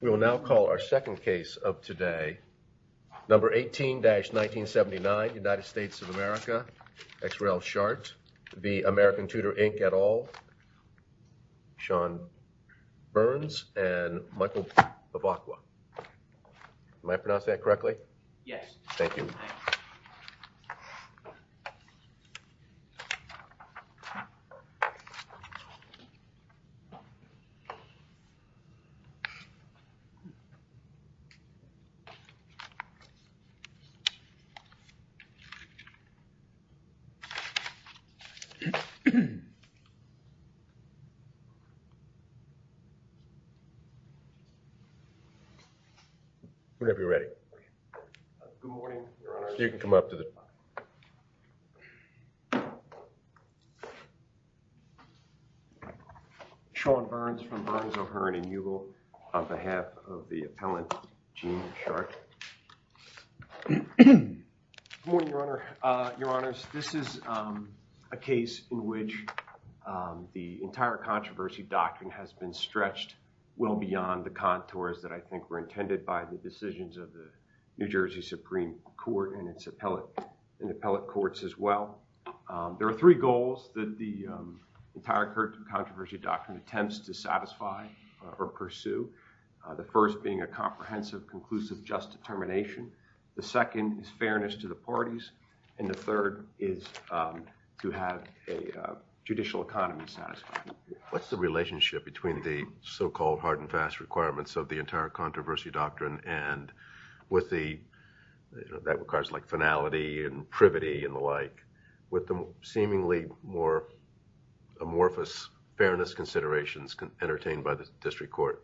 We will now call our second case of today, number 18-1979, United States of America, XRL Charte v. American Tutor Inc et al., Sean Burns and Michael Bavacqua. Am I pronouncing that correctly? Yes. Thank you. Whenever you're ready. Good morning, Your Honor. You can come up to the... Sean Burns from Burns, O'Hearn & Eugle on behalf of the appellant Gene Charte. Good morning, Your Honor. Your Honors, this is a case in which the entire controversy doctrine has been stretched well beyond the contours that I think were intended by the decisions of the New Jersey Supreme Court and its appellate, and appellate courts as well. There are three goals that the entire controversy doctrine attempts to satisfy or pursue. The first being a comprehensive, conclusive, just determination. The second is fairness to the parties. And the third is to have a judicial economy satisfied. What's the relationship between the so-called hard and fast requirements of the entire controversy doctrine and with the, you know, that requires like finality and privity and the like, with the seemingly more amorphous fairness considerations entertained by the district court?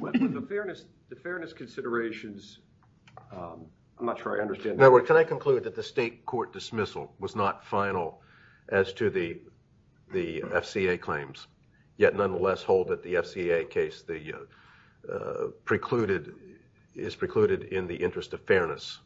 Well, the fairness, the fairness considerations, I'm not sure I understand... Can I conclude that the state court dismissal was not final as to the FCA claims, yet nonetheless hold that the FCA case precluded, is precluded in the interest of fairness?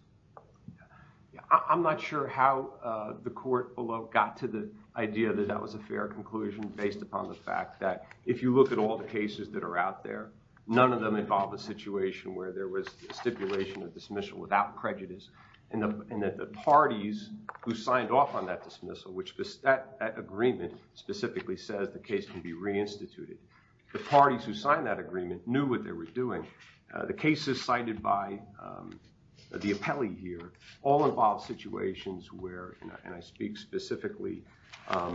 I'm not sure how the court below got to the idea that that was a fair conclusion based upon the fact that if you look at all the cases that are out there, none of them involve a situation where there was stipulation of dismissal without prejudice. And that the parties who signed off on that dismissal, which that agreement specifically says the case can be reinstituted, the parties who signed that agreement knew what they were doing. The cases cited by the appellee here all involve situations where, and I speak specifically to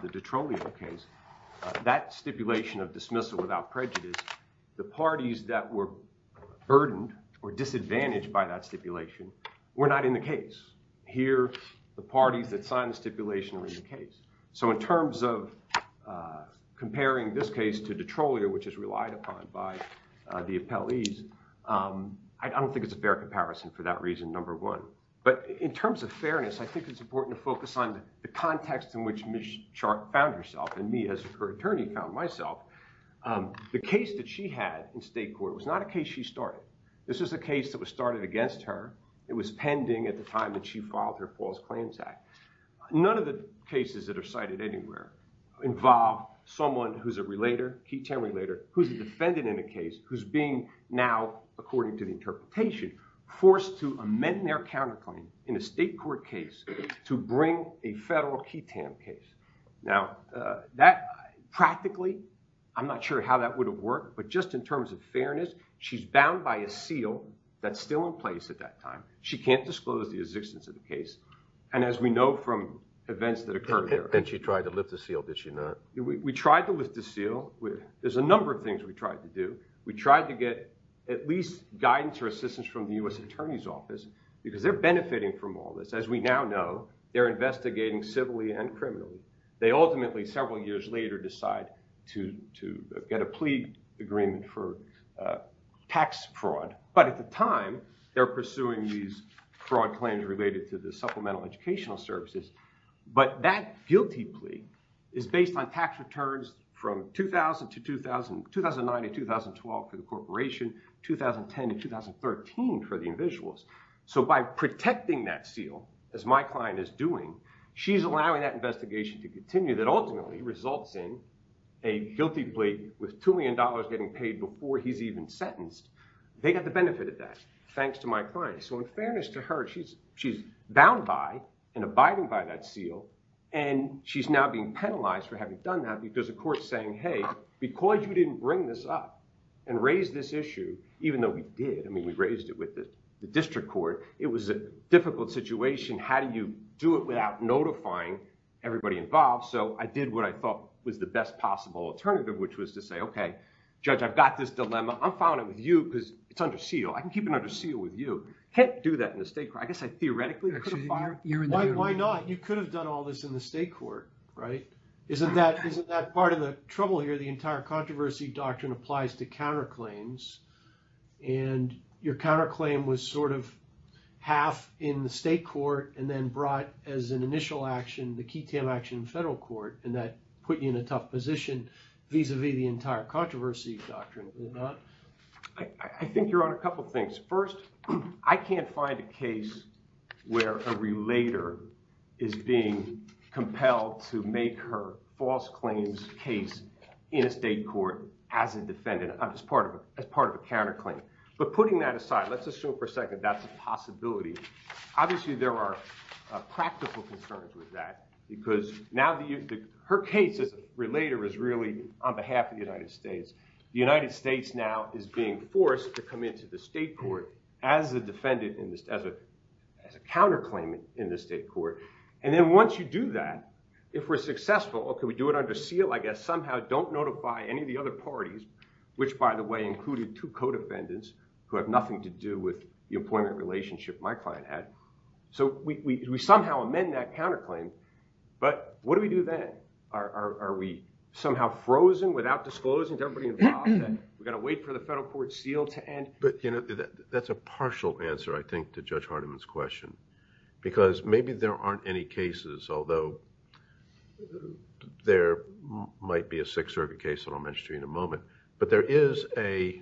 the Detrolio case, that stipulation of dismissal without prejudice, the parties that were burdened or disadvantaged by that stipulation were not in the case. Here, the parties that signed the stipulation were in the case. So in terms of comparing this case to Detrolio, which is relied upon by the appellees, I don't think it's a fair comparison for that reason, number one. But in terms of fairness, I think it's important to focus on the context in which Ms. Sharp found herself, and me as her attorney found myself. The case that she had in state court was not a case she started. This is a case that was started against her. It was pending at the time that she filed her False Claims Act. None of the cases that are cited anywhere involve someone who's a relator, key term relator, who's a defendant in a case, who's being now, according to the interpretation, forced to amend their counterclaim in a state court case to bring a federal key term case. Now, that practically, I'm not sure how that would have worked, but just in terms of fairness, she's bound by a seal that's still in place at that time. She can't disclose the existence of the case, and as we know from events that occurred there. And she tried to lift the seal, did she not? We tried to lift the seal. There's a number of things we tried to do. We tried to get at least guidance or assistance from the U.S. Attorney's Office, because they're benefiting from all this. As we now know, they're investigating civilly and criminally. They ultimately, several years later, decide to get a plea agreement for tax fraud. But at the time, they're pursuing these fraud claims related to the supplemental educational services. But that guilty plea is based on tax returns from 2000 to 2000, 2009 to 2012 for the corporation, 2010 to 2013 for the individuals. So by protecting that seal, as my client is doing, she's allowing that investigation to continue, that ultimately results in a guilty plea with $2 million getting paid before he's even sentenced. They got the benefit of that, thanks to my client. So in fairness to her, she's bound by and abiding by that seal, and she's now being penalized for having done that because the court's saying, hey, because you didn't bring this up and raise this issue, even though we did, I mean, we raised it with the district court, it was a difficult situation. How do you do it without notifying everybody involved? So I did what I thought was the best possible alternative, which was to say, okay, judge, I've got this dilemma. I'm filing it with you because it's under seal. I can keep it under seal with you. Can't do that in the state court. I guess I theoretically could have filed- Why not? You could have done all this in the state court, right? Isn't that part of the trouble here? The entire controversy doctrine applies to counterclaims, and your counterclaim was sort of half in the state court and then brought as an initial action, the key tail action in federal court, and that put you in a tough position vis-a-vis the entire controversy doctrine, did it not? I think you're on a couple of things. First, I can't find a case where a relater is being compelled to make her false claims case in a state court as a defendant, as part of a counterclaim. But putting that aside, let's assume for a second that's a possibility. Obviously, there are practical concerns with that because now her case as a relater is really on behalf of the United States. The United States now is being forced to come into the state court as a defendant, as a counterclaim in the state court. And then once you do that, if we're successful, okay, we do it under seal, I guess, somehow don't notify any of the other parties, which by the way, included two co-defendants who have nothing to do with the employment relationship my client had. So we somehow amend that counterclaim, but what do we do then? Are we somehow frozen without disclosing to wait for the federal court seal to end? But, you know, that's a partial answer, I think, to Judge Hardiman's question because maybe there aren't any cases, although there might be a Sixth Circuit case that I'll mention to you in a moment, but there is a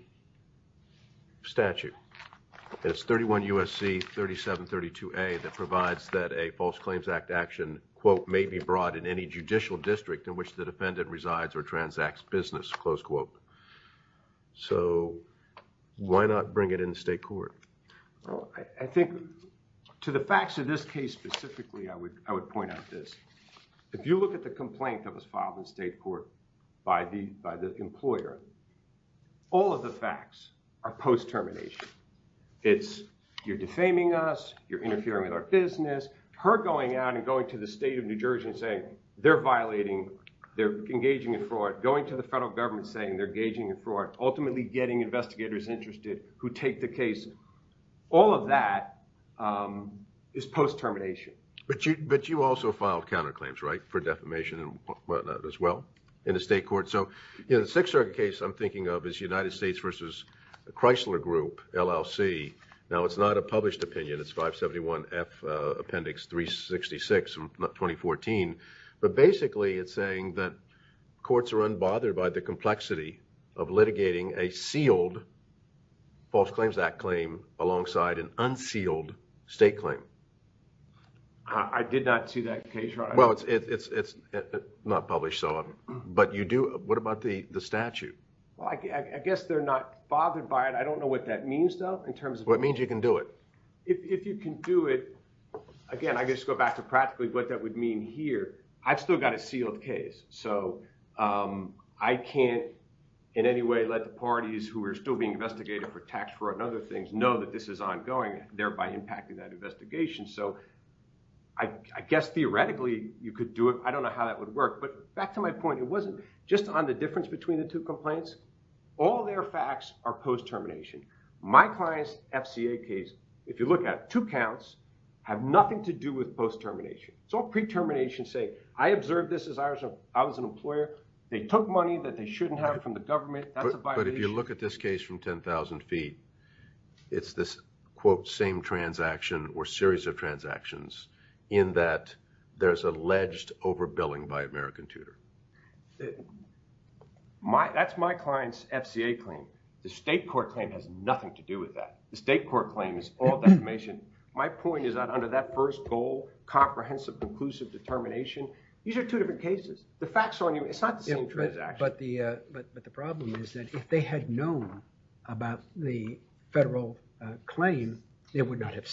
statute. It's 31 U.S.C. 3732A that provides that a false claims act action, quote, may be brought in any judicial district in which the defendant resides or transacts business, close quote. So why not bring it in the state court? Well, I think to the facts of this case specifically, I would, I would point out this. If you look at the complaint that was filed in state court by the, by the employer, all of the facts are post-termination. It's you're defaming us, you're interfering with our business, her going out and going to the state of New Jersey and saying they're violating, they're engaging in fraud, going to the federal government saying they're gauging a fraud, ultimately getting investigators interested who take the case. All of that is post-termination. But you, but you also filed counterclaims, right, for defamation and whatnot as well in the state court. So, you know, the Sixth Circuit case I'm thinking of is United States v. Chrysler Group, LLC. Now it's not a published opinion, it's 571 F Appendix 366 from 2014. But basically it's saying that courts are unbothered by the complexity of litigating a sealed False Claims Act claim alongside an unsealed state claim. I did not see that case. Well, it's, it's, it's not published. So, but you do, what about the, the statute? Well, I guess they're not bothered by it. I don't know what that means though, what it means you can do it. If you can do it, again, I guess go back to practically what that would mean here. I've still got a sealed case. So, I can't in any way let the parties who are still being investigated for tax fraud and other things know that this is ongoing, thereby impacting that investigation. So, I guess theoretically you could do it. I don't know how that would work. But back to my point, it wasn't just on the difference between the two cases. If you look at two counts have nothing to do with post-termination. It's all pre-termination say, I observed this as I was, I was an employer. They took money that they shouldn't have from the government. That's a violation. But if you look at this case from 10,000 feet, it's this quote, same transaction or series of transactions in that there's alleged overbilling by American Tudor. That's my client's FCA claim. The state court claim has nothing to do with that. The state court claim is all defamation. My point is that under that first goal, comprehensive, conclusive determination, these are two different cases. The facts are on you. It's not the same transaction. But the problem is that if they had known about the federal claim, it would not have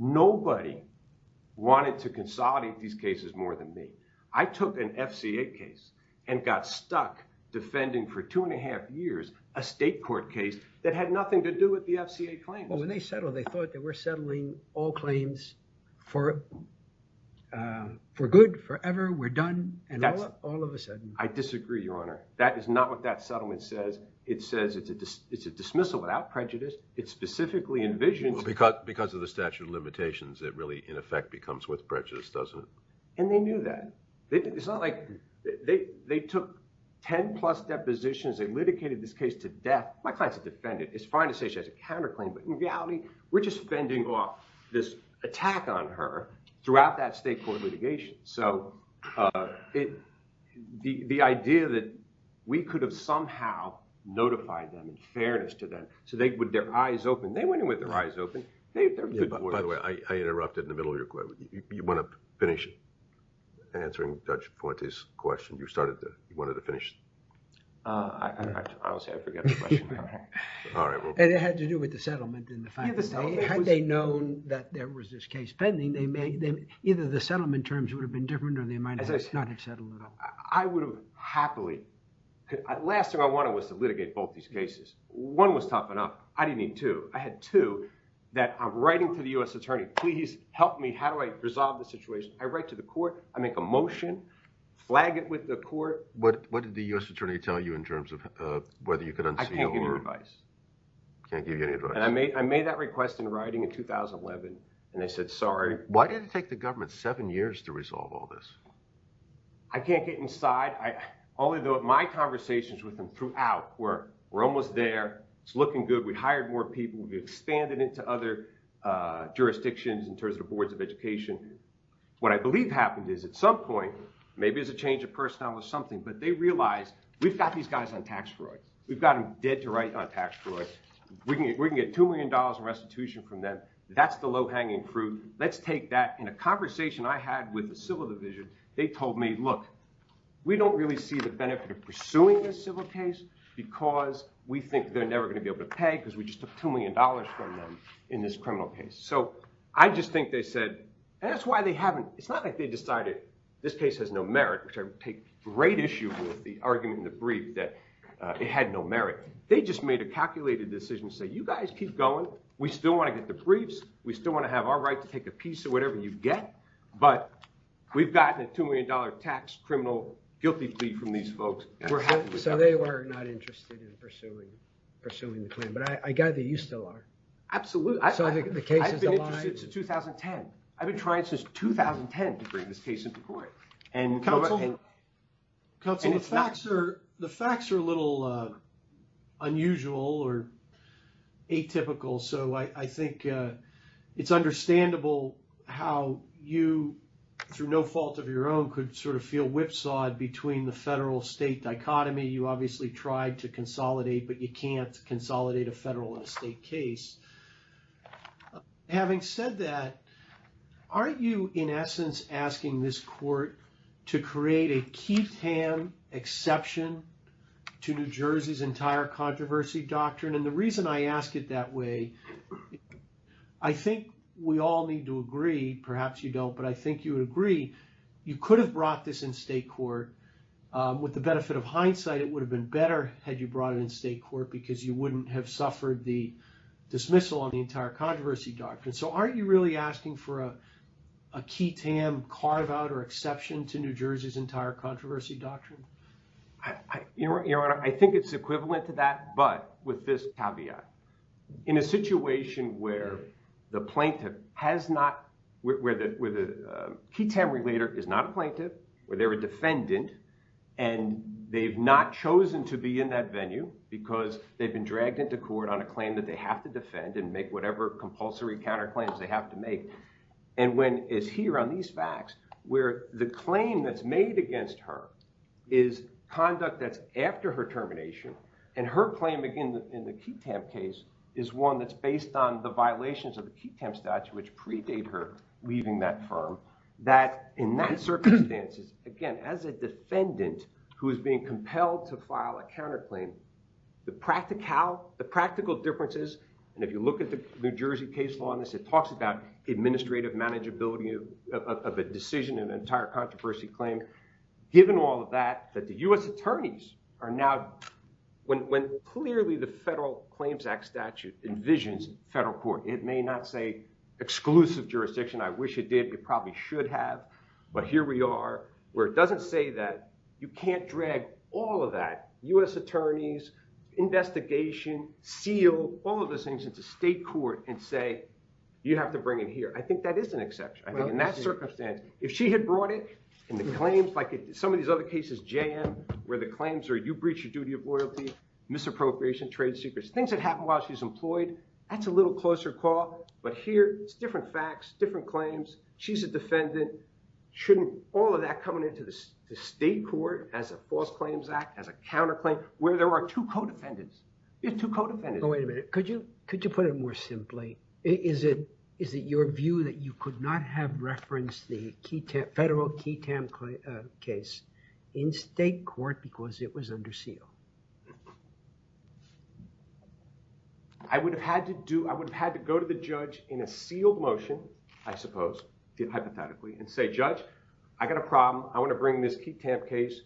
Nobody wanted to consolidate these cases more than me. I took an FCA case and got stuck defending for two and a half years, a state court case that had nothing to do with the FCA claim. Well, when they settled, they thought that we're settling all claims for, for good, forever. We're done. And all of a sudden, I disagree, your honor. That is not what that settlement says. It says it's a, it's a dismissal without prejudice. It's specifically envisioned because, because of the statute of limitations that really in effect becomes with prejudice, doesn't it? And they knew that it's not like they, they took 10 plus depositions. They litigated this case to death. My client's a defendant. It's fine to say she has a counter claim, but in reality, we're just fending off this attack on her throughout that state court litigation. So, uh, it, the, the idea that we could have somehow notified them in fairness to so they, with their eyes open, they went in with their eyes open. By the way, I interrupted in the middle of your question. You want to finish answering Judge Fuente's question? You started to, you wanted to finish? Uh, I, I, honestly, I forgot the question. All right. And it had to do with the settlement in the final state. Had they known that there was this case pending, they may, either the settlement terms would have been different or they might not have settled at all. I would have happily, last thing I wanted was to litigate both these cases. One was tough enough. I didn't need two. I had two that I'm writing to the U.S. attorney, please help me. How do I resolve the situation? I write to the court, I make a motion, flag it with the court. What, what did the U.S. attorney tell you in terms of, uh, whether you could unseat him? I can't give you any advice. Can't give you any advice. And I made, I made that request in writing in 2011 and they said, sorry. Why did it take the government seven years to resolve all this? I can't get inside. I, all of my conversations with them throughout were, we're almost there. It's looking good. We hired more people. We expanded into other, uh, jurisdictions in terms of the boards of education. What I believe happened is at some point, maybe it was a change of personnel or something, but they realized we've got these guys on tax fraud. We've got them dead to right on tax fraud. We can, we can get $2 million in restitution from them. That's the low hanging fruit. Let's take that. In a conversation I had with the civil division, they told me, look, we don't really see the benefit of pursuing this case because we think they're never going to be able to pay because we just took $2 million from them in this criminal case. So I just think they said, and that's why they haven't, it's not like they decided this case has no merit, which I take great issue with the argument in the brief that it had no merit. They just made a calculated decision to say, you guys keep going. We still want to get the briefs. We still want to have our right to take a piece of whatever you get, but we've gotten a $2 million tax criminal guilty plea from these folks. So they were not interested in pursuing the claim, but I gather you still are. Absolutely. I've been interested since 2010. I've been trying since 2010 to bring this case into court. And counsel, the facts are a little unusual or atypical. So I think it's understandable how you, through no fault of your own, could sort of feel whipsawed between the federal-state dichotomy. You obviously tried to consolidate, but you can't consolidate a federal and a state case. Having said that, aren't you, in essence, asking this court to create a keep-tan exception to New Jersey's entire controversy doctrine? And the reason I ask it that way, I think we all need to agree, perhaps you don't, but I think you would agree, you could have brought this in state court. With the benefit of hindsight, it would have been better had you brought it in state court because you wouldn't have suffered the dismissal on the entire controversy doctrine. So aren't you really asking for a keep-tan carve-out or exception to New Jersey's entire controversy doctrine? Your Honor, I think it's equivalent to that, but with this caveat. In a situation where the plaintiff has not, where the keep-tan relater is not a plaintiff, where they're a defendant, and they've not chosen to be in that venue because they've been dragged into court on a claim that they have to defend and make whatever compulsory counterclaims they have to make. And when it's here on these facts, where the claim that's made against her is conduct that's after her termination, and her claim, again, in the keep-tan case, is one that's based on the violations of the keep-tan statute which predate her leaving that firm, that in that circumstances, again, as a defendant who is being compelled to file a counterclaim, the practical differences, and if you look at the case law in this, it talks about administrative manageability of a decision in an entire controversy claim. Given all of that, that the U.S. attorneys are now, when clearly the Federal Claims Act statute envisions federal court, it may not say exclusive jurisdiction. I wish it did. It probably should have. But here we are where it doesn't say that. You can't drag all of that, U.S. attorneys, investigation, seal, all of those things into state court and say, you have to bring it here. I think that is an exception. I think in that circumstance, if she had brought it, and the claims, like some of these other cases jam, where the claims are, you breach your duty of loyalty, misappropriation, trade secrets, things that happen while she's employed, that's a little closer call. But here, it's different facts, different claims. She's a defendant. Shouldn't all of that coming into the state court as a false claims act, as a counterclaim, where there are two co-defendants, two co-defendants. Wait a minute. Could you put it more simply? Is it your view that you could not have referenced the federal key tamp case in state court because it was under seal? I would have had to go to the judge in a sealed motion, I suppose, hypothetically, and say, I got a problem. I want to bring this key tamp case.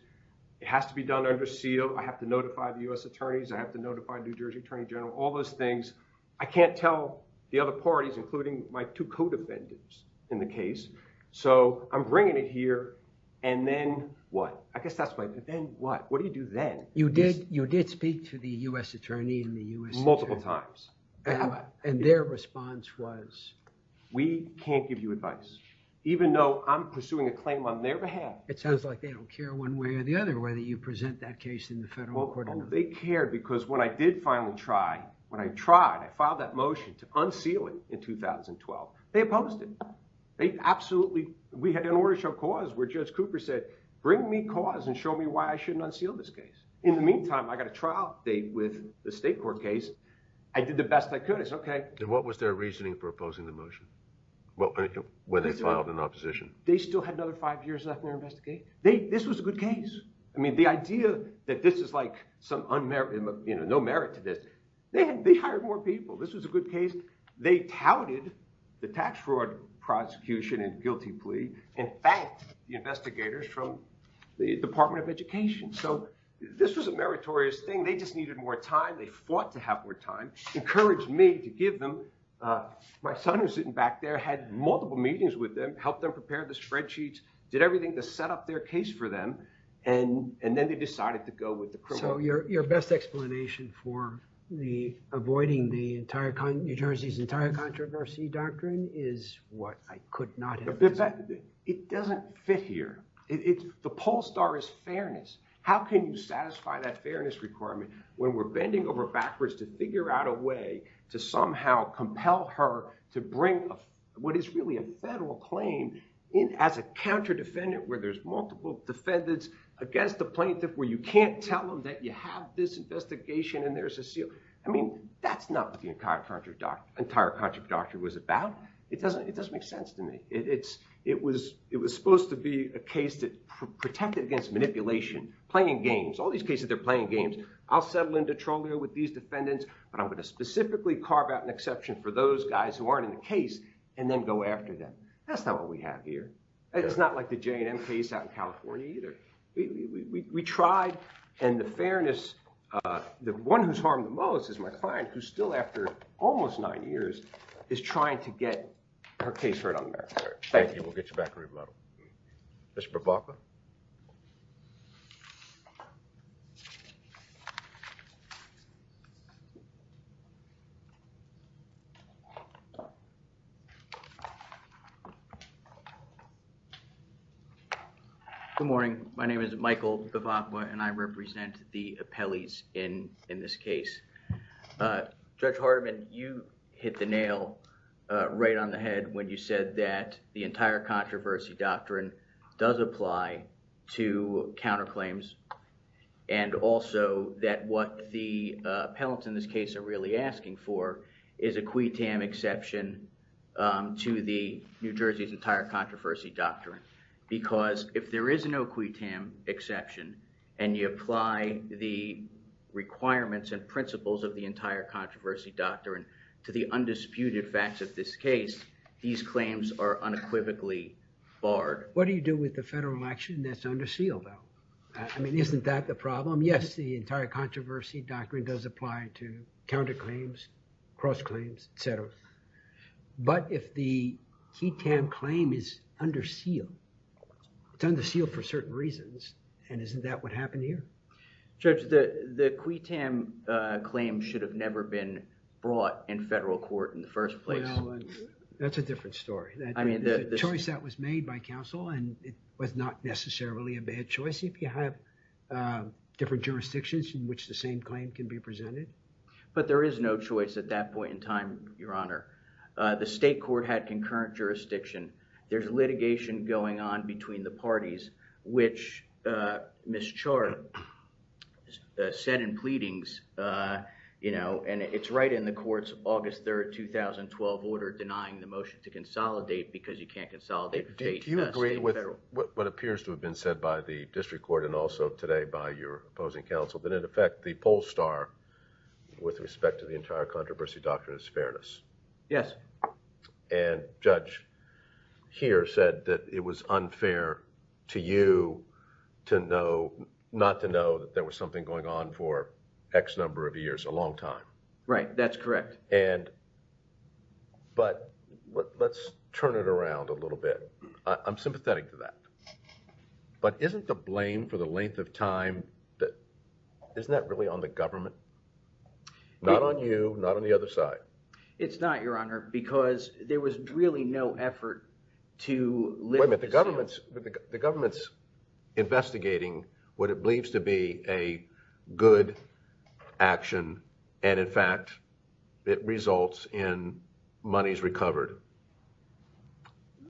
It has to be done under seal. I have to notify the U.S. attorneys. I have to notify New Jersey Attorney General, all those things. I can't tell the other parties, including my two co-defendants in the case. So I'm bringing it here and then what? I guess that's my, but then what? What do you do then? You did, you did speak to the U.S. attorney and the U.S. Multiple times. And their response was? We can't give you advice, even though I'm pursuing a claim on their behalf. It sounds like they don't care one way or the other, whether you present that case in the federal court or not. They cared because when I did finally try, when I tried, I filed that motion to unseal it in 2012, they opposed it. They absolutely, we had an order show cause where Judge Cooper said, bring me cause and show me why I shouldn't unseal this case. In the meantime, I got a trial date with the state court case. I did the best I could. It's okay. And what was their reasoning for opposing the motion? Well, when they filed an opposition. They still had another five years left in their investigation. They, this was a good case. I mean, the idea that this is like some unmerit, you know, no merit to this. They hired more people. This was a good case. They touted the tax fraud prosecution and guilty plea and thanked the investigators from the department of education. So this was a meritorious thing. They just needed more time. They fought to have more time, encouraged me to give them, my son was sitting back there, had multiple meetings with them, helped them prepare the spreadsheets, did everything to set up their case for them. And, and then they decided to go with the criminal. So your, your best explanation for the avoiding the entire New Jersey's entire controversy doctrine is what I could not have. It doesn't fit here. It's the pole star is fairness. How can you satisfy that fairness requirement when we're bending over backwards to figure out a way to somehow compel her to bring what is really a federal claim in as a counter defendant, where there's multiple defendants against the plaintiff, where you can't tell them that you have this investigation and there's a seal. I mean, that's not what the entire contract doc, entire contract doctor was about. It doesn't, it doesn't make sense to me. It's, it was, it was supposed to be a case that protected against manipulation, playing games, all these cases, they're playing games. I'll settle into trolling with these defendants, but I'm going to specifically carve out an exception for those guys who aren't in the case and then go after them. That's not what we have here. It's not like the J and M case out in California either. We, we, we, we tried and the fairness, uh, the one who's harmed the most is my client who's still after almost nine years is trying to get her case heard on the matter. Thank you. We'll get you back. Mr. Bavacqua. Good morning. My name is Michael Bavacqua and I represent the appellees in, in this case. Uh, Judge does apply to counterclaims and also that what the, uh, appellants in this case are really asking for is a quitam exception, um, to the New Jersey's entire controversy doctrine, because if there is no quitam exception and you apply the requirements and principles of the entire controversy doctrine to the undisputed facts of this case, these claims are unequivocally barred. What do you do with the federal action that's under seal though? I mean, isn't that the problem? Yes, the entire controversy doctrine does apply to counterclaims, cross claims, et cetera, but if the quitam claim is under seal, it's under seal for certain reasons and isn't that what brought in federal court in the first place? That's a different story. I mean, the choice that was made by counsel and it was not necessarily a bad choice. If you have, uh, different jurisdictions in which the same claim can be presented. But there is no choice at that point in time, Your Honor. Uh, the state court had concurrent jurisdiction. There's litigation going on between the parties, which, uh, Ms. Char said in pleadings, uh, you know, and it's right in the court's August 3rd, 2012 order denying the motion to consolidate because you can't consolidate. Do you agree with what appears to have been said by the district court and also today by your opposing counsel that in effect the poll star with respect to the entire controversy doctrine is fairness? Yes. And judge here said that it was unfair to you to know, not to know that there was something going on for X number of years, a long time, right? That's correct. And, but let's turn it around a little bit. I'm sympathetic to that, but isn't the blame for the length of time that isn't that really on the government, not on you, not on the other side. It's not, Your Honor, because there was really no effort to limit the government's, the government's investigating what it believes to be a good action. And in fact, it results in monies recovered.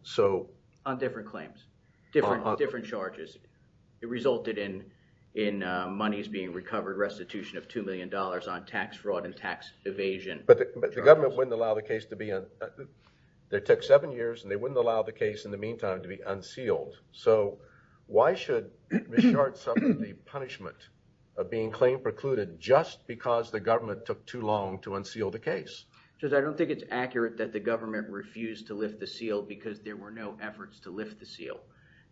So on different claims, different, different charges, it resulted in, in, uh, monies being recovered, restitution of $2 million on tax fraud and tax evasion. But the government wouldn't allow the case to be, uh, they took seven years and they wouldn't allow the case in the meantime to be unsealed. So why should Ms. Sharpe suffer the punishment of being claim precluded just because the government took too long to unseal the case? Judge, I don't think it's accurate that the government refused to lift the seal because there were no efforts to lift the seal.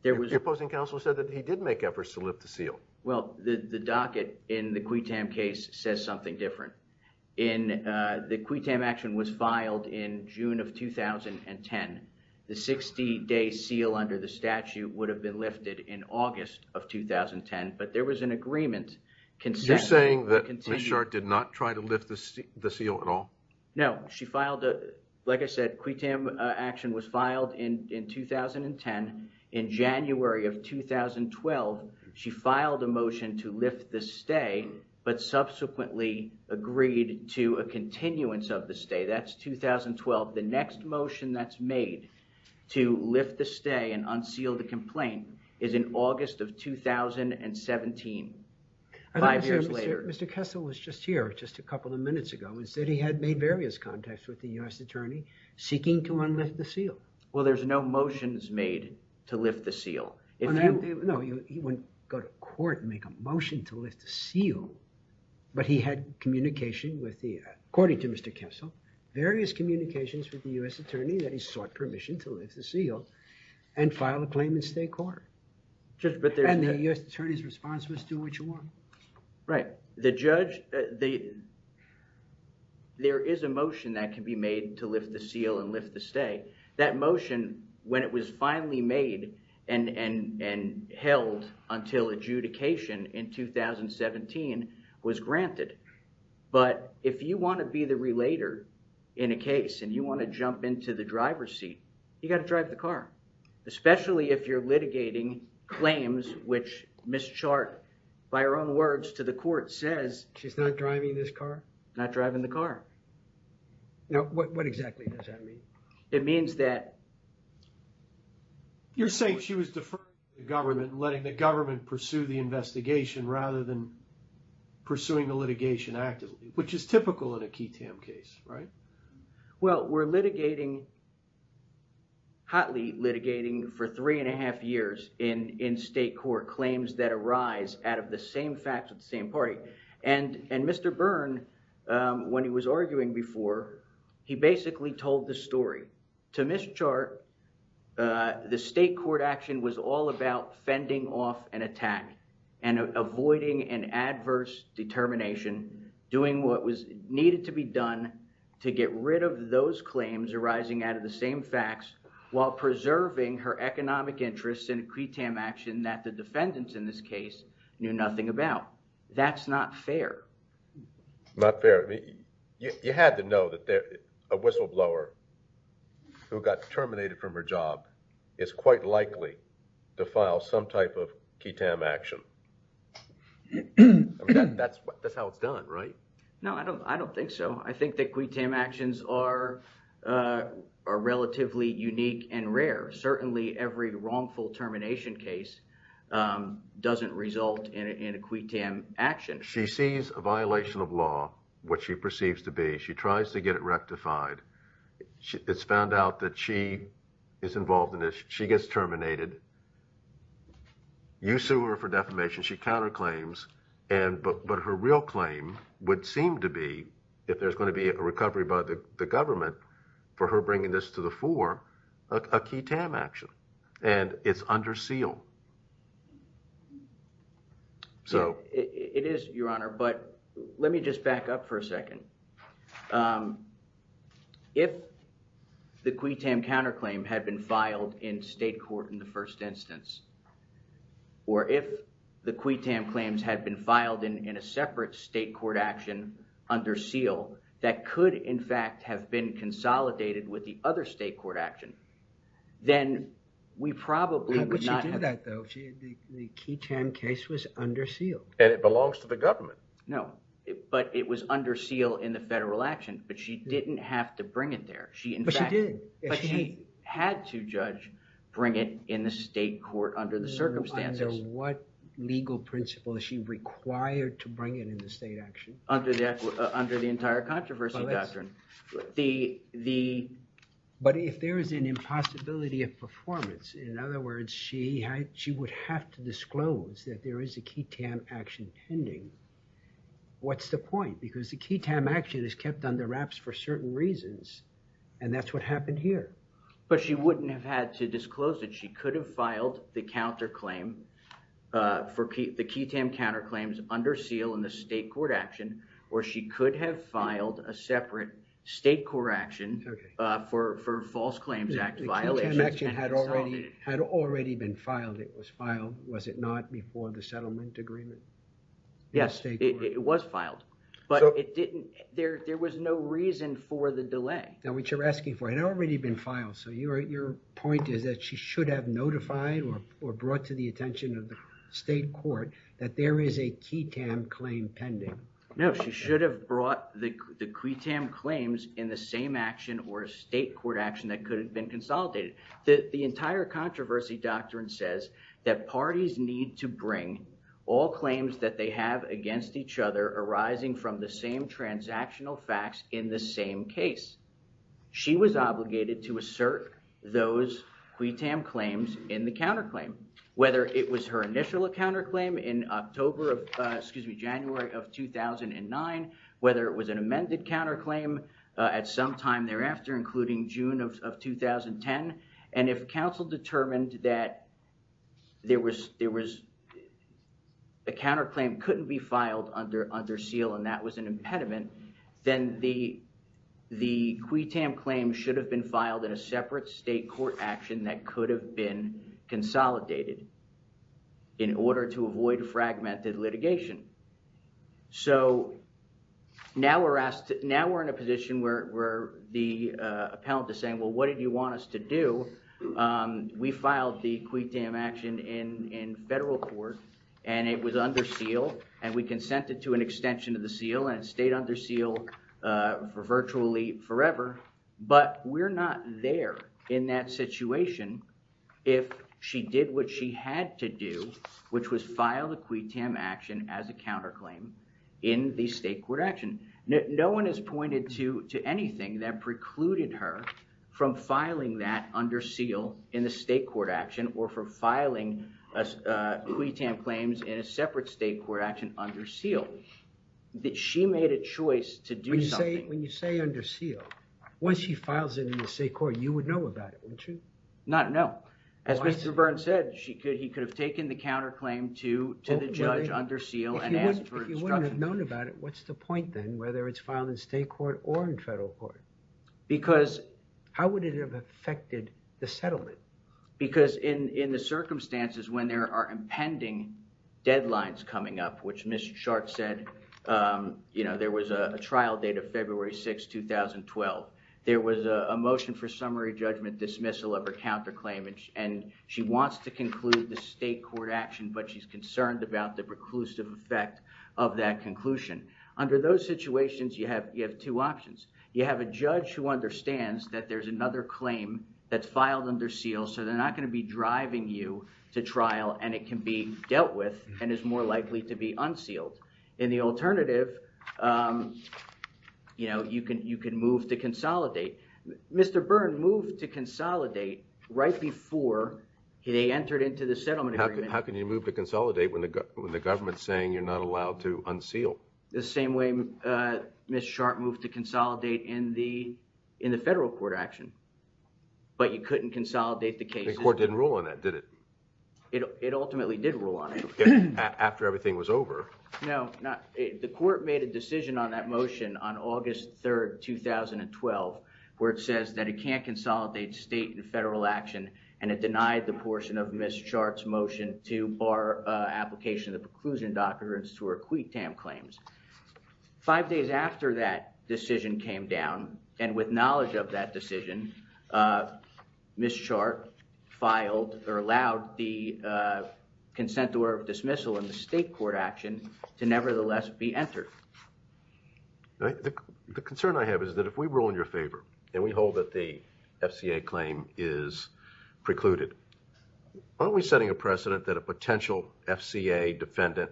Your opposing counsel said that he did make efforts to lift the seal. Well, the, the docket in the QUITAM case says something different. In, uh, the QUITAM action was filed in June of 2010. The 60-day seal under the statute would have been lifted in August of 2010, but there was an agreement. You're saying that Ms. Sharpe did not try to lift the seal at all? No, she filed a, like I said, QUITAM action was filed in, in 2010. In January of 2012, she filed a motion to lift the stay, but subsequently agreed to a continuance of the stay. That's 2012. The next motion that's made to lift the stay and unseal the complaint is in August of 2017, five years later. Mr. Kessel was just here just a couple of minutes ago and said he had made various contacts with the U.S. Attorney seeking to unlift the seal. Well, there's no motions made to lift the seal. No, he wouldn't go to court and make a motion to lift the seal, but he had communication with the, according to Mr. Kessel, various communications with the U.S. Attorney that he sought permission to lift the seal and file a claim in state court. Judge, but there's... And the U.S. Attorney's response was do what you want. Right. The judge, there is a motion that can be made to lift the seal and lift the stay. That motion, when it was finally made and held until adjudication in 2017, was granted. But if you want to be the relator in a case and you want to jump into the driver's seat, you got to drive the car, especially if you're litigating claims, which Ms. Chart, by her own words to the court, says... She's not driving this car? Not driving the car. No. What exactly does that mean? It means that... You're saying she was deferring to the government and letting the government pursue the investigation rather than pursuing the litigation actively, which is typical in a key TAM case, right? Well, we're litigating, hotly litigating for three and a half years in state court, claims that arise out of the same facts of the same party. And Mr. Byrne, when he was arguing before, he basically told the story. To Ms. Chart, the state court action was all about fending off an attack and avoiding an adverse determination, doing what was needed to be done to get rid of those claims arising out of the same facts while preserving her economic interests in a key TAM action that the defendants in this case knew nothing about. That's not fair. Not fair. You had to know that a whistleblower who got terminated from her job is quite likely to file some type of key TAM action. That's how it's done, right? No, I don't think so. I think that key TAM actions are relatively unique and rare. Certainly, every wrongful termination case doesn't result in a key TAM action. She sees a violation of law, what she perceives to be. She tries to get it rectified. It's found out that she is involved in this. She gets terminated. You sue her for defamation. She counterclaims. But her real claim would seem to be, if there's going to be a recovery by the government for her bringing this to the fore, a key TAM action. It's under seal. It is, Your Honor. Let me just back up for a second. If the key TAM counterclaim had been filed in state court in the first instance, or if the key TAM claims had been filed in a separate state court action under seal, that could, in fact, have been consolidated with the other state court action, then we probably would not have... How would she do that, though? The key TAM case was under seal. And it belongs to the government. No, but it was under seal in the federal action, but she didn't have to bring it there. But she did. But she had to, Judge, bring it in the state court under the circumstances. Under what legal principle is she talking about? But if there is an impossibility of performance, in other words, she would have to disclose that there is a key TAM action pending. What's the point? Because the key TAM action is kept under wraps for certain reasons, and that's what happened here. But she wouldn't have had to disclose it. She could have filed the counterclaim for the key TAM counterclaims under seal in the state court action, or she could have filed a separate state court action for false claims. The key TAM action had already been filed. It was filed, was it not, before the settlement agreement? Yes, it was filed, but it didn't... There was no reason for the delay. Now, what you're asking for had already been filed. So your point is that she should have notified or brought to the attention of the state court that there is a key TAM claim pending. No, she should have brought the key TAM claims in the same action or state court action that could have been consolidated. The entire controversy doctrine says that parties need to bring all claims that they have against each other arising from the same transactional facts in the same case. She was obligated to assert those key TAM claims in the counterclaim. Whether it was her initial counterclaim in October, excuse me, January of 2009, whether it was an amended counterclaim at some time thereafter, including June of 2010. And if counsel determined that there was a counterclaim couldn't be filed under seal, and that was an impediment, then the key TAM claim should have been filed in a separate state court action that could have been consolidated in order to avoid fragmented litigation. So now we're asked... Now we're in a position where the appellate is saying, well, what did you want us to do? We filed the key TAM action in federal court and it was under seal and we consented to an extension of the seal and it stayed under seal for virtually forever. But we're not there in that situation if she did what she had to do, which was file the key TAM action as a counterclaim in the state court action. No one has pointed to anything that precluded her from filing that under seal in the state court action or for filing key TAM claims in a separate state court action under seal. That she made a choice to do something. When you say under seal, once she files it in the state court, you would know about it, wouldn't you? No. As Mr. Byrne said, he could have taken the counterclaim to the judge under seal and asked for instruction. If you would have known about it, what's the point then, whether it's filed in state court or in federal court? Because... How would it have affected the settlement? Because in the circumstances when there are impending deadlines coming up, which Ms. Chart said, there was a trial date of February 6, 2012. There was a motion for summary judgment dismissal of her counterclaim and she wants to conclude the state court action, but she's concerned about the preclusive effect of that conclusion. Under those situations, you have two options. You have a judge who understands that there's another claim that's filed under seal, so they're not going to be driving you to trial and it can be dealt with and is more likely to be unsealed. In the alternative, you know, you can move to consolidate. Mr. Byrne moved to consolidate right before they entered into the settlement agreement. How can you move to consolidate when the government's saying you're not allowed to unseal? The same way Ms. Chart moved to consolidate in the federal court action, but you couldn't consolidate the case. The court didn't rule on that, did it? It ultimately did rule on it. After everything was over. No, not... The court made a decision on that motion on August 3, 2012, where it says that it can't consolidate state and federal action and it denied the portion of Ms. Chart's motion to bar application of the preclusion documents to uh, Ms. Chart filed or allowed the consent or dismissal in the state court action to nevertheless be entered. The concern I have is that if we rule in your favor and we hold that the FCA claim is precluded, aren't we setting a precedent that a potential FCA defendant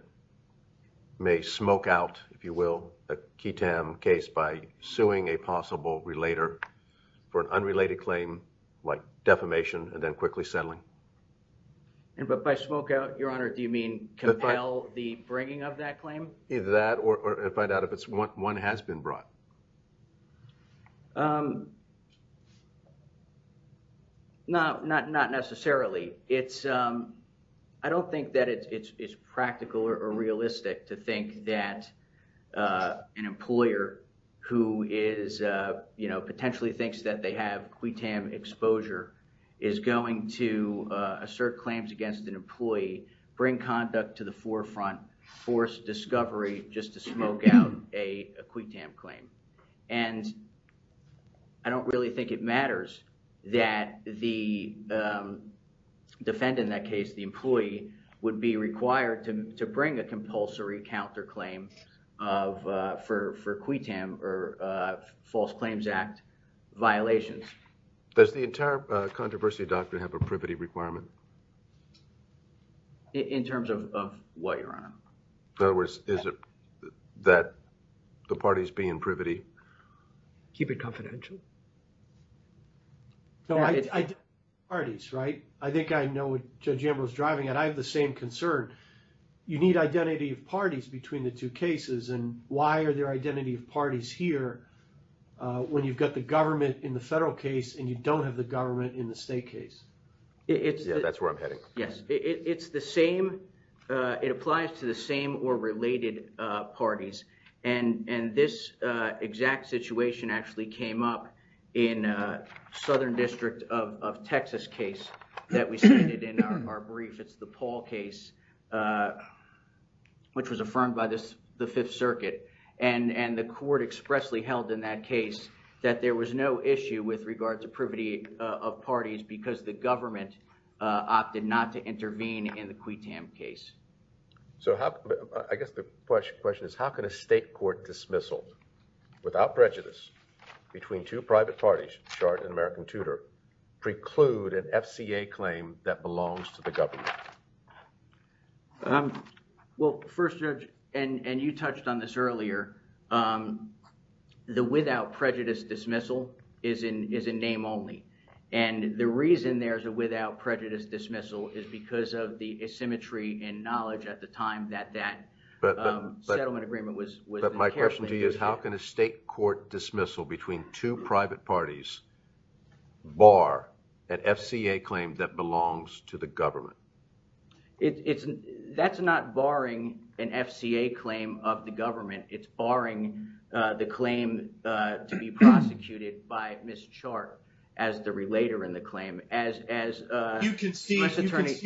may smoke out, if you will, a KTAM case by suing a possible relater for an unrelated claim like defamation and then quickly settling? And but by smoke out, Your Honor, do you mean compel the bringing of that claim? Either that or find out if it's one has been brought. Um, not, not, not necessarily. It's um, I don't think that it's, it's, it's practical or realistic to think that uh, an employer who is uh, you know, potentially thinks that they have KTAM exposure is going to assert claims against an employee, bring conduct to the forefront, force discovery just to smoke out a KTAM claim. And I don't really think it matters that the defendant in that case, the employee, would be required to, to bring a compulsory counterclaim of uh, for, for KTAM or uh, false claims act violations. Does the entire controversy doctrine have a privity requirement? In, in terms of, of what, Your Honor? In other words, is it that the parties be in privity? Keep it confidential. No, I, I, parties, right? I think I know what Judge Ambrose is driving at. I have the same concern. You need identity of parties between the two cases and why are there identity of parties here uh, when you've got the government in the federal case and you don't have the government in the state case? It's, that's where I'm heading. Yes, it's the same uh, it applies to the same or related uh, parties and, and this uh, exact situation actually came up in uh, Southern District of, of Texas case that we cited in our, our brief. It's the Paul case uh, which was affirmed by this, the Fifth Circuit and, and the court expressly held in that case that there was no issue with regards to privity uh, of parties because the government uh, opted not to intervene in the Quitam case. So how, I guess the question, question is how can a state court dismissal without prejudice between two private parties, Chard and American Tudor, preclude an FCA claim that belongs to the government? Um, well first Judge, and, and you touched on this earlier, um, the without prejudice dismissal is in, is in name only and the reason there's a without prejudice dismissal is because of the asymmetry in knowledge at the time that, that um, settlement agreement was, was... But my question to you is how can a state court dismissal between two private parties bar an FCA claim that belongs to the government? It's, it's, that's not barring an FCA claim of government, it's barring uh, the claim uh, to be prosecuted by Ms. Chard as the relater in the claim. As, as uh... You concede,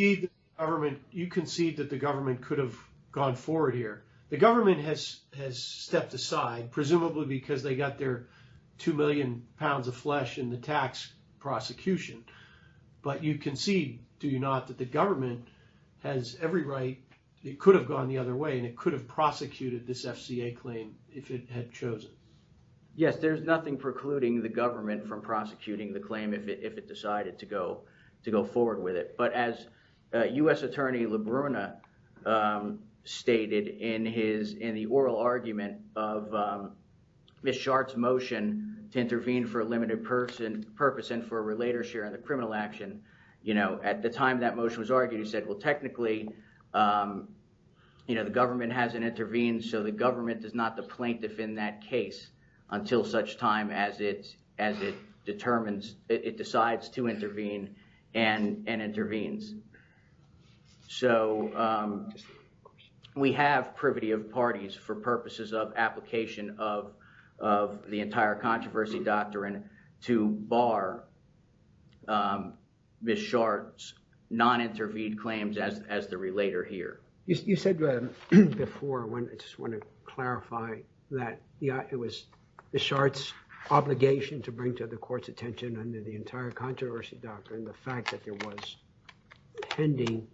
you concede that the government, you concede that the government could have gone forward here. The government has, has stepped aside presumably because they got their two million pounds of flesh in the tax prosecution. But you concede, do you not, that the government has every right, it could have gone the other way and it could have prosecuted this FCA claim if it had chosen? Yes, there's nothing precluding the government from prosecuting the claim if it, if it decided to go, to go forward with it. But as uh, U.S. Attorney LaBruna um, stated in his, in the oral argument of um, Ms. Chard's motion to intervene for a limited person, purpose and for a relater sharing the criminal action, you know, at the time that motion was is not the plaintiff in that case until such time as it, as it determines, it decides to intervene and, and intervenes. So um, we have privity of parties for purposes of application of, of the entire controversy doctrine to bar um, Ms. Chard's non-intervened claims as, as the relater here. You, you said um, before when, I just want to clarify that yeah, it was Ms. Chard's obligation to bring to the court's attention under the entire controversy doctrine, the fact that there was pending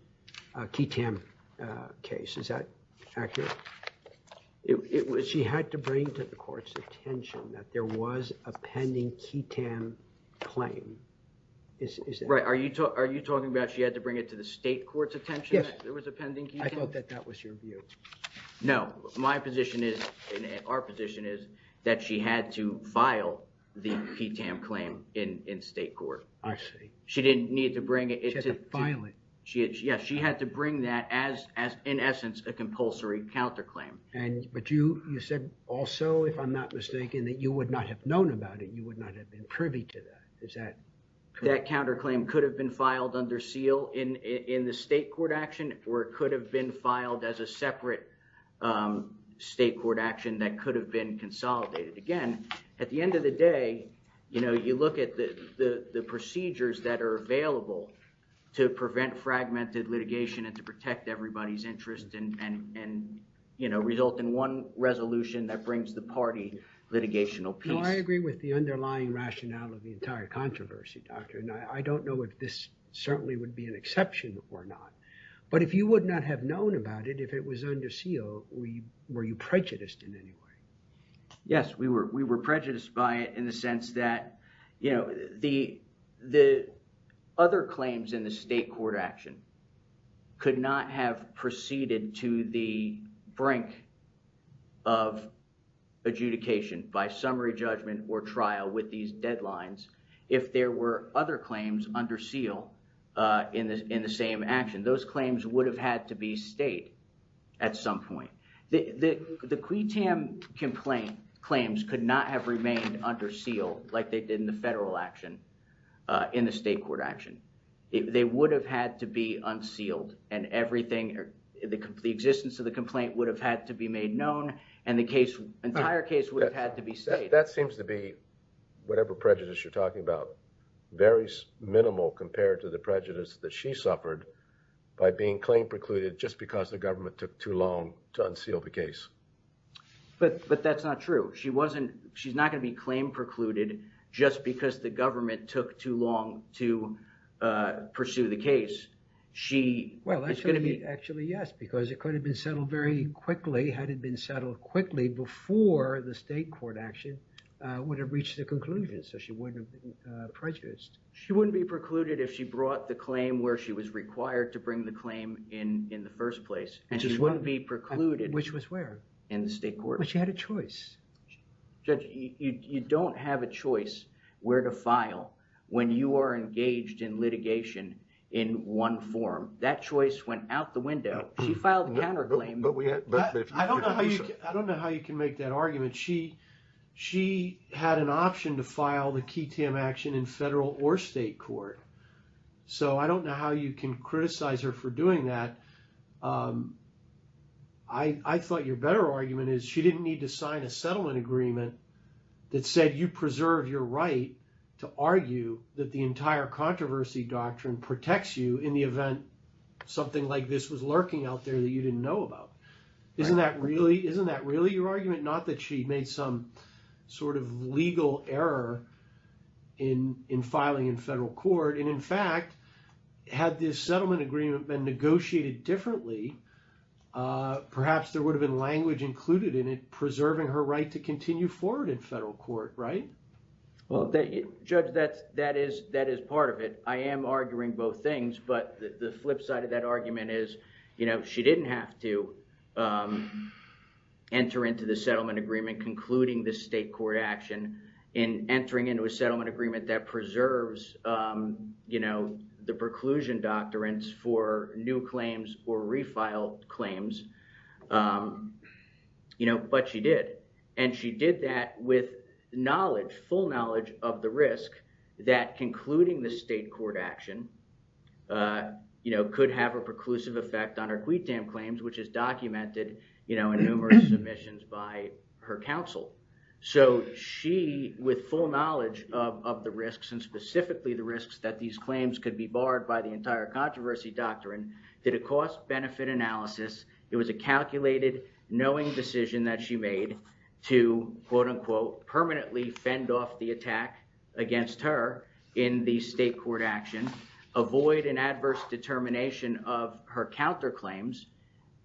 a QITAM case. Is that accurate? It, it was, she had to bring to the court's attention that there was a pending QITAM claim. Is, is that right? Are you, are you saying that she had to bring it to the state court's attention that there was a pending QITAM? Yes. I thought that that was your view. No. My position is, our position is that she had to file the QITAM claim in, in state court. I see. She didn't need to bring it. She had to file it. Yes, she had to bring that as, as in essence a compulsory counterclaim. And, but you, you said also, if I'm not mistaken, that you would not have known about it. You would not have been privy to that. Is that correct? That counterclaim could have been filed under seal in the state court action, or it could have been filed as a separate state court action that could have been consolidated. Again, at the end of the day, you know, you look at the, the, the procedures that are available to prevent fragmented litigation and to protect everybody's interest and, and, and, you know, result in one resolution that brings the party litigational peace. No, I agree with the underlying rationale of the entire controversy doctrine. I don't know if this certainly would be an exception or not, but if you would not have known about it, if it was under seal, we, were you prejudiced in any way? Yes, we were, we were prejudiced by it in the sense that, you know, the, the other claims in the state court action could not have proceeded to the brink of adjudication by summary judgment or trial with these deadlines if there were other claims under seal, uh, in the, in the same action. Those claims would have had to be state at some point. The, the, the Quee Tam complaint claims could not have remained under seal like they did in the federal action, uh, in the state court action. They would have had to be unsealed and everything, the existence of the complaint would have had to be made known and the case, entire case would have had to be state. That seems to be, whatever prejudice you're talking about, very minimal compared to the prejudice that she suffered by being claim precluded just because the government took too long to unseal the case. But, but that's not true. She wasn't, she's not going to be claim precluded just because the government took too long to, uh, pursue the case. She is going to be- Well, actually, actually, yes, because it could have been settled very quickly had it been settled quickly before the state court action, uh, would have reached the conclusion. So she wouldn't have been, uh, prejudiced. She wouldn't be precluded if she brought the claim where she was required to bring the claim in, in the first place. And she wouldn't be precluded- Which was where? In the state court. But she had a choice. Judge, you, you, you don't have a choice where to file when you are engaged in litigation in one form. That choice went out the window. She filed a counterclaim- But we had- I don't know how you, I don't know how you can make that argument. She, she had an option to file the key TAM action in federal or state court. So I don't know how you can criticize her for doing that. Um, I, I thought your better argument is she didn't need to sign a settlement agreement that said you preserve your right to argue that the entire controversy doctrine protects you in the event something like this was lurking out there that you didn't know about. Isn't that really, isn't that really your argument? Not that she made some sort of legal error in, in filing in federal court. And in fact, had this settlement agreement been negotiated differently, uh, perhaps there would have been language included in it, preserving her right to continue forward in federal court, right? Well, judge, that's, that is, that is part of it. I am arguing both things, but the flip side of that argument is, you know, she didn't have to, um, enter into the settlement agreement, concluding the state court action in entering into a settlement agreement that preserves, um, you know, the preclusion doctrines for new claims or refiled claims. Um, you know, but she did, and she did that with knowledge, full knowledge of the risk that concluding the state court action, uh, you know, could have a preclusive effect on claims, which is documented, you know, in numerous submissions by her counsel. So she, with full knowledge of the risks and specifically the risks that these claims could be barred by the entire controversy doctrine, did a cost benefit analysis. It was a calculated knowing decision that she made to quote unquote permanently fend off the attack against her in the state court action, avoid an adverse determination of her counterclaims,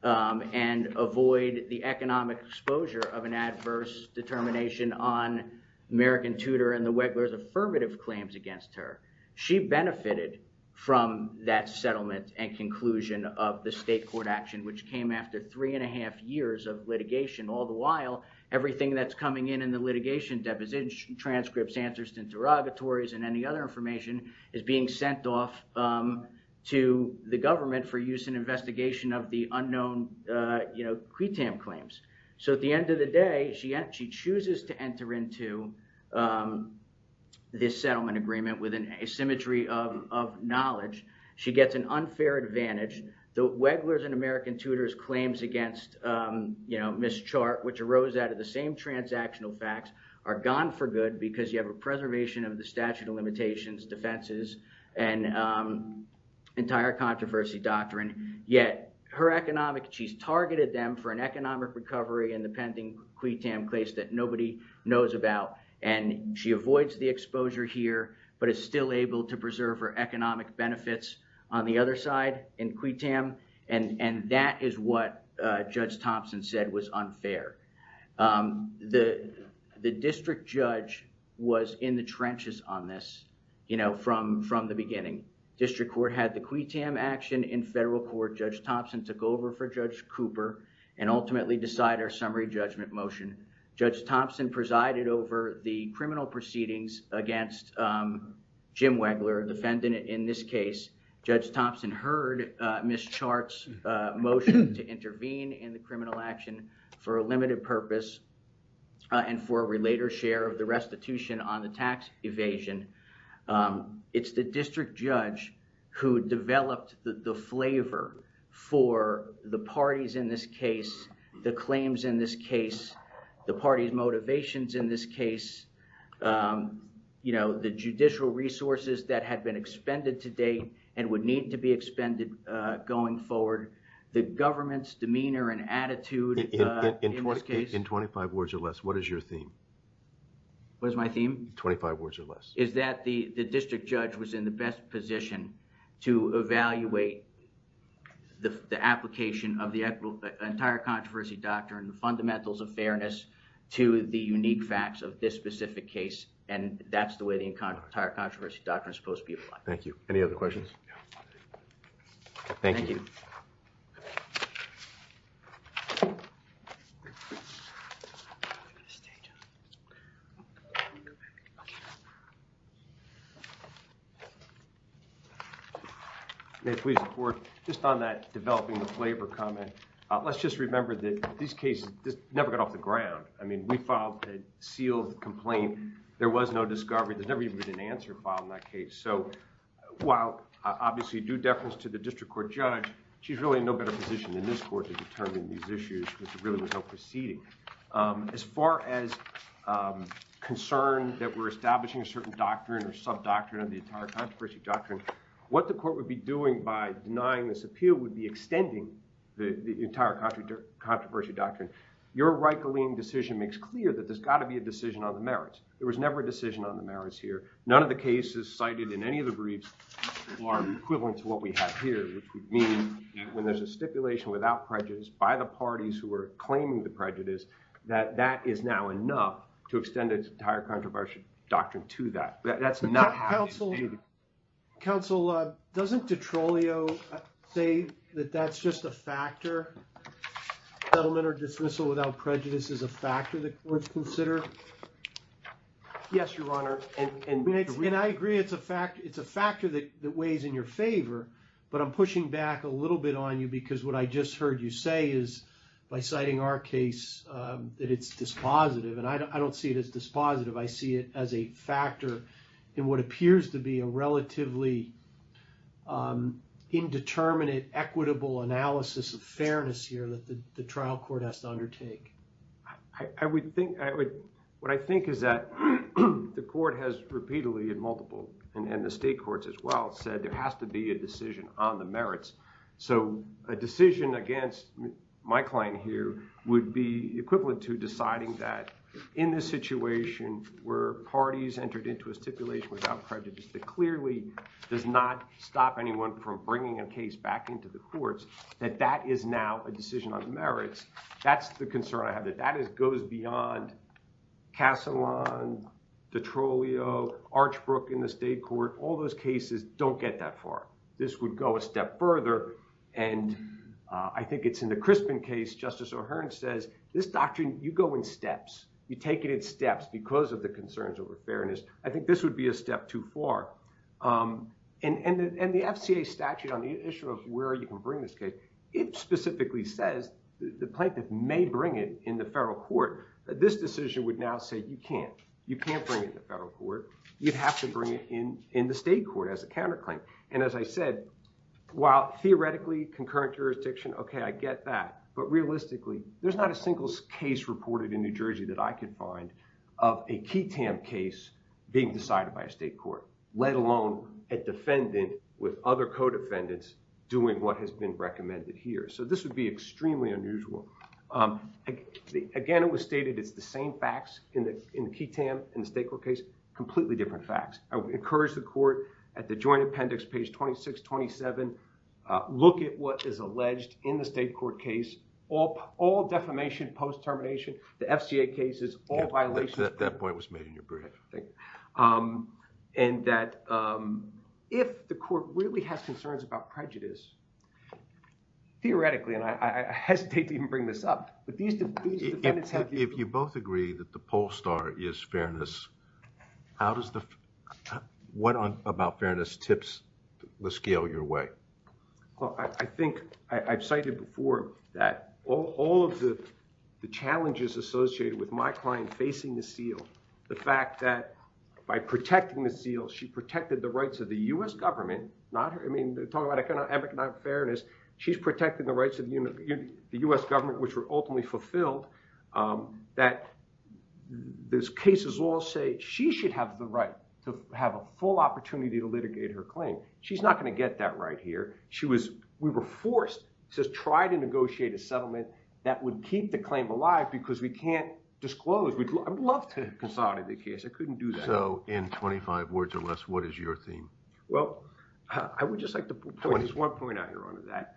um, and avoid the economic exposure of an adverse determination on American Tudor and the Wegler's affirmative claims against her. She benefited from that settlement and conclusion of the state court action, which came after three and a half years of litigation. All the while, everything that's coming in in the litigation, depositions, transcripts, answers to interrogatories and any other information is being sent off, um, to the government for use in investigation of the unknown, uh, you know, CRETAM claims. So at the end of the day, she, she chooses to enter into, um, this settlement agreement with an asymmetry of, of knowledge. She gets an unfair advantage. The Wegler's and American Tudor's claims against, um, you know, mischart, which arose out of the transactional facts are gone for good because you have a preservation of the statute of limitations, defenses, and, um, entire controversy doctrine. Yet her economic, she's targeted them for an economic recovery in the pending CRETAM case that nobody knows about. And she avoids the exposure here, but it's still able to preserve her economic benefits on the other side in CRETAM. And, and that is what, uh, Judge Thompson said was unfair. Um, the, the district judge was in the trenches on this, you know, from, from the beginning. District court had the CRETAM action in federal court. Judge Thompson took over for Judge Cooper and ultimately decide our summary judgment motion. Judge Thompson presided over the criminal proceedings against, um, Jim Wegler, defendant in this case. Judge Thompson heard, uh, Ms. Chart's, uh, motion to intervene in the criminal action for a limited purpose, uh, and for a related share of the restitution on the tax evasion. Um, it's the district judge who developed the, the flavor for the parties in this case, the claims in this case, the party's motivations in this case, um, you know, the judicial resources that had been expended to date and would need to be expended, uh, going forward, the government's demeanor and attitude, uh, in this case. In 25 words or less, what is your theme? What is my theme? 25 words or less. Is that the, the district judge was in the best position to evaluate the, the application of the equitable, entire controversy doctrine, the fundamentals of fairness to the unique facts of this specific case, and that's the way the entire controversy doctrine is supposed to be applied. Thank you. Any other questions? Thank you. May I please report just on that developing the flavor comment. Uh, let's just remember that these cases just never got off the ground. I mean, we filed a sealed complaint. There was no discovery. There's never even been an answer filed in that case. So while obviously due deference to the district court judge, she's really in no better position than this court to determine these issues because there really was no proceeding. Um, as far as, um, concern that we're establishing a certain doctrine or sub doctrine of the entire controversy doctrine, what the court would be doing by denying this appeal would be extending the entire country to controversy doctrine. You're right. Galeen decision makes clear that there's got to be a decision on the merits. There was never a decision on the merits here. None of the cases cited in any of the briefs are equivalent to what we have here, which would mean when there's a stipulation without prejudice by the parties who are claiming the prejudice that that is now enough to extend its entire controversy doctrine to that. That's not helpful. Counsel, uh, doesn't detrolio say that that's just a factor settlement or dismissal without prejudice is a factor that courts consider? Yes, your honor. And I agree. It's a fact. It's a factor that weighs in your favor, but I'm pushing back a little bit on you because what I just heard you say is by citing our case, um, that it's dispositive and I don't see it as dispositive. I see it as a factor in what appears to be a relatively, um, indeterminate equitable analysis of fairness here that the trial court has to undertake. I would think I would. What I think is that the court has repeatedly and multiple and the state courts as well said there has to be a decision on the merits. So a decision against my client here would be equivalent to deciding that in this situation, where parties entered into a stipulation without prejudice, that clearly does not stop anyone from bringing a case back into the courts, that that is now a decision on merits. That's the concern I have that that is goes beyond castle on the trollio Archbrook in the state court. All those cases don't get that far. This would go a step further. And, uh, I think it's in the Crispin case. Justice O'Hearn says this doctrine, you go in steps, you take it in steps because of concerns over fairness. I think this would be a step too far. Um, and, and, and the FCA statute on the issue of where you can bring this case. It specifically says the plaintiff may bring it in the federal court, but this decision would now say you can't, you can't bring it to federal court. You'd have to bring it in in the state court as a counterclaim. And as I said, while theoretically concurrent jurisdiction. Okay, I get that. But realistically, there's not a single case reported in New Jersey that I could find of a key Tam case being decided by a state court, let alone a defendant with other co-defendants doing what has been recommended here. So this would be extremely unusual. Um, again, it was stated. It's the same facts in the, in the key Tam in the state court case, completely different facts. I would encourage the court at the joint appendix, page 26, 27, uh, look at what is alleged in the state court case. All, all defamation post-termination, the FCA cases, all violations. That point was made in your brief. Um, and that, um, if the court really has concerns about prejudice, theoretically, and I, I, I hesitate to even bring this up, but these, these defendants have. If you both agree that the pole star is fairness, how does the, what about fairness tips the scale your way? Well, I, I think I, I've cited before that all, all of the, the challenges associated with my client facing the seal, the fact that by protecting the seal, she protected the rights of the U S government, not her. I mean, they're talking about economic, not fairness. She's protecting the rights of the U S government, which were ultimately fulfilled. Um, that there's cases all say she should have the right to have a full opportunity to litigate her claim. She's not going to get that right here. She was, we were forced to try to negotiate a settlement that would keep the claim alive because we can't disclose. We'd love to consolidate the case. I couldn't do that. So in 25 words or less, what is your theme? Well, I would just like to point out here on that.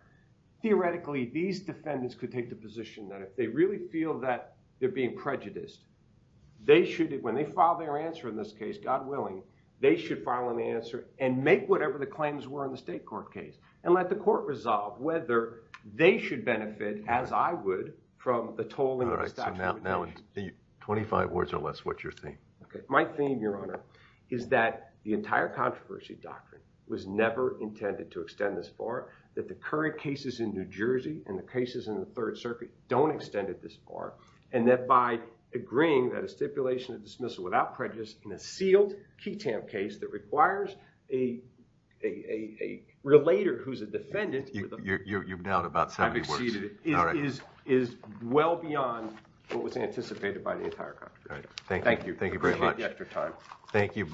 Theoretically, these defendants could take the position that if they really feel that they're being prejudiced, they should, when they file their answer in this case, God willing, they should file an answer and make whatever the claims were in the state court case and let the court resolve whether they should benefit as I would from the toll. All right. So now, now in 25 words or less, what's your thing? Okay. My theme, your honor, is that the entire controversy doctrine was never intended to extend this far that the current cases in New Jersey and the cases in the third circuit don't extend it this far. And that by agreeing that a stipulation of dismissal without prejudice in a sealed key case that requires a, a, a, a relator who's a defendant. You, you, you, you've nailed about 70 words. I've exceeded it. All right. It is, is well beyond what was anticipated by the entire controversy. All right. Thank you. Thank you very much. Appreciate the extra time. Thank you.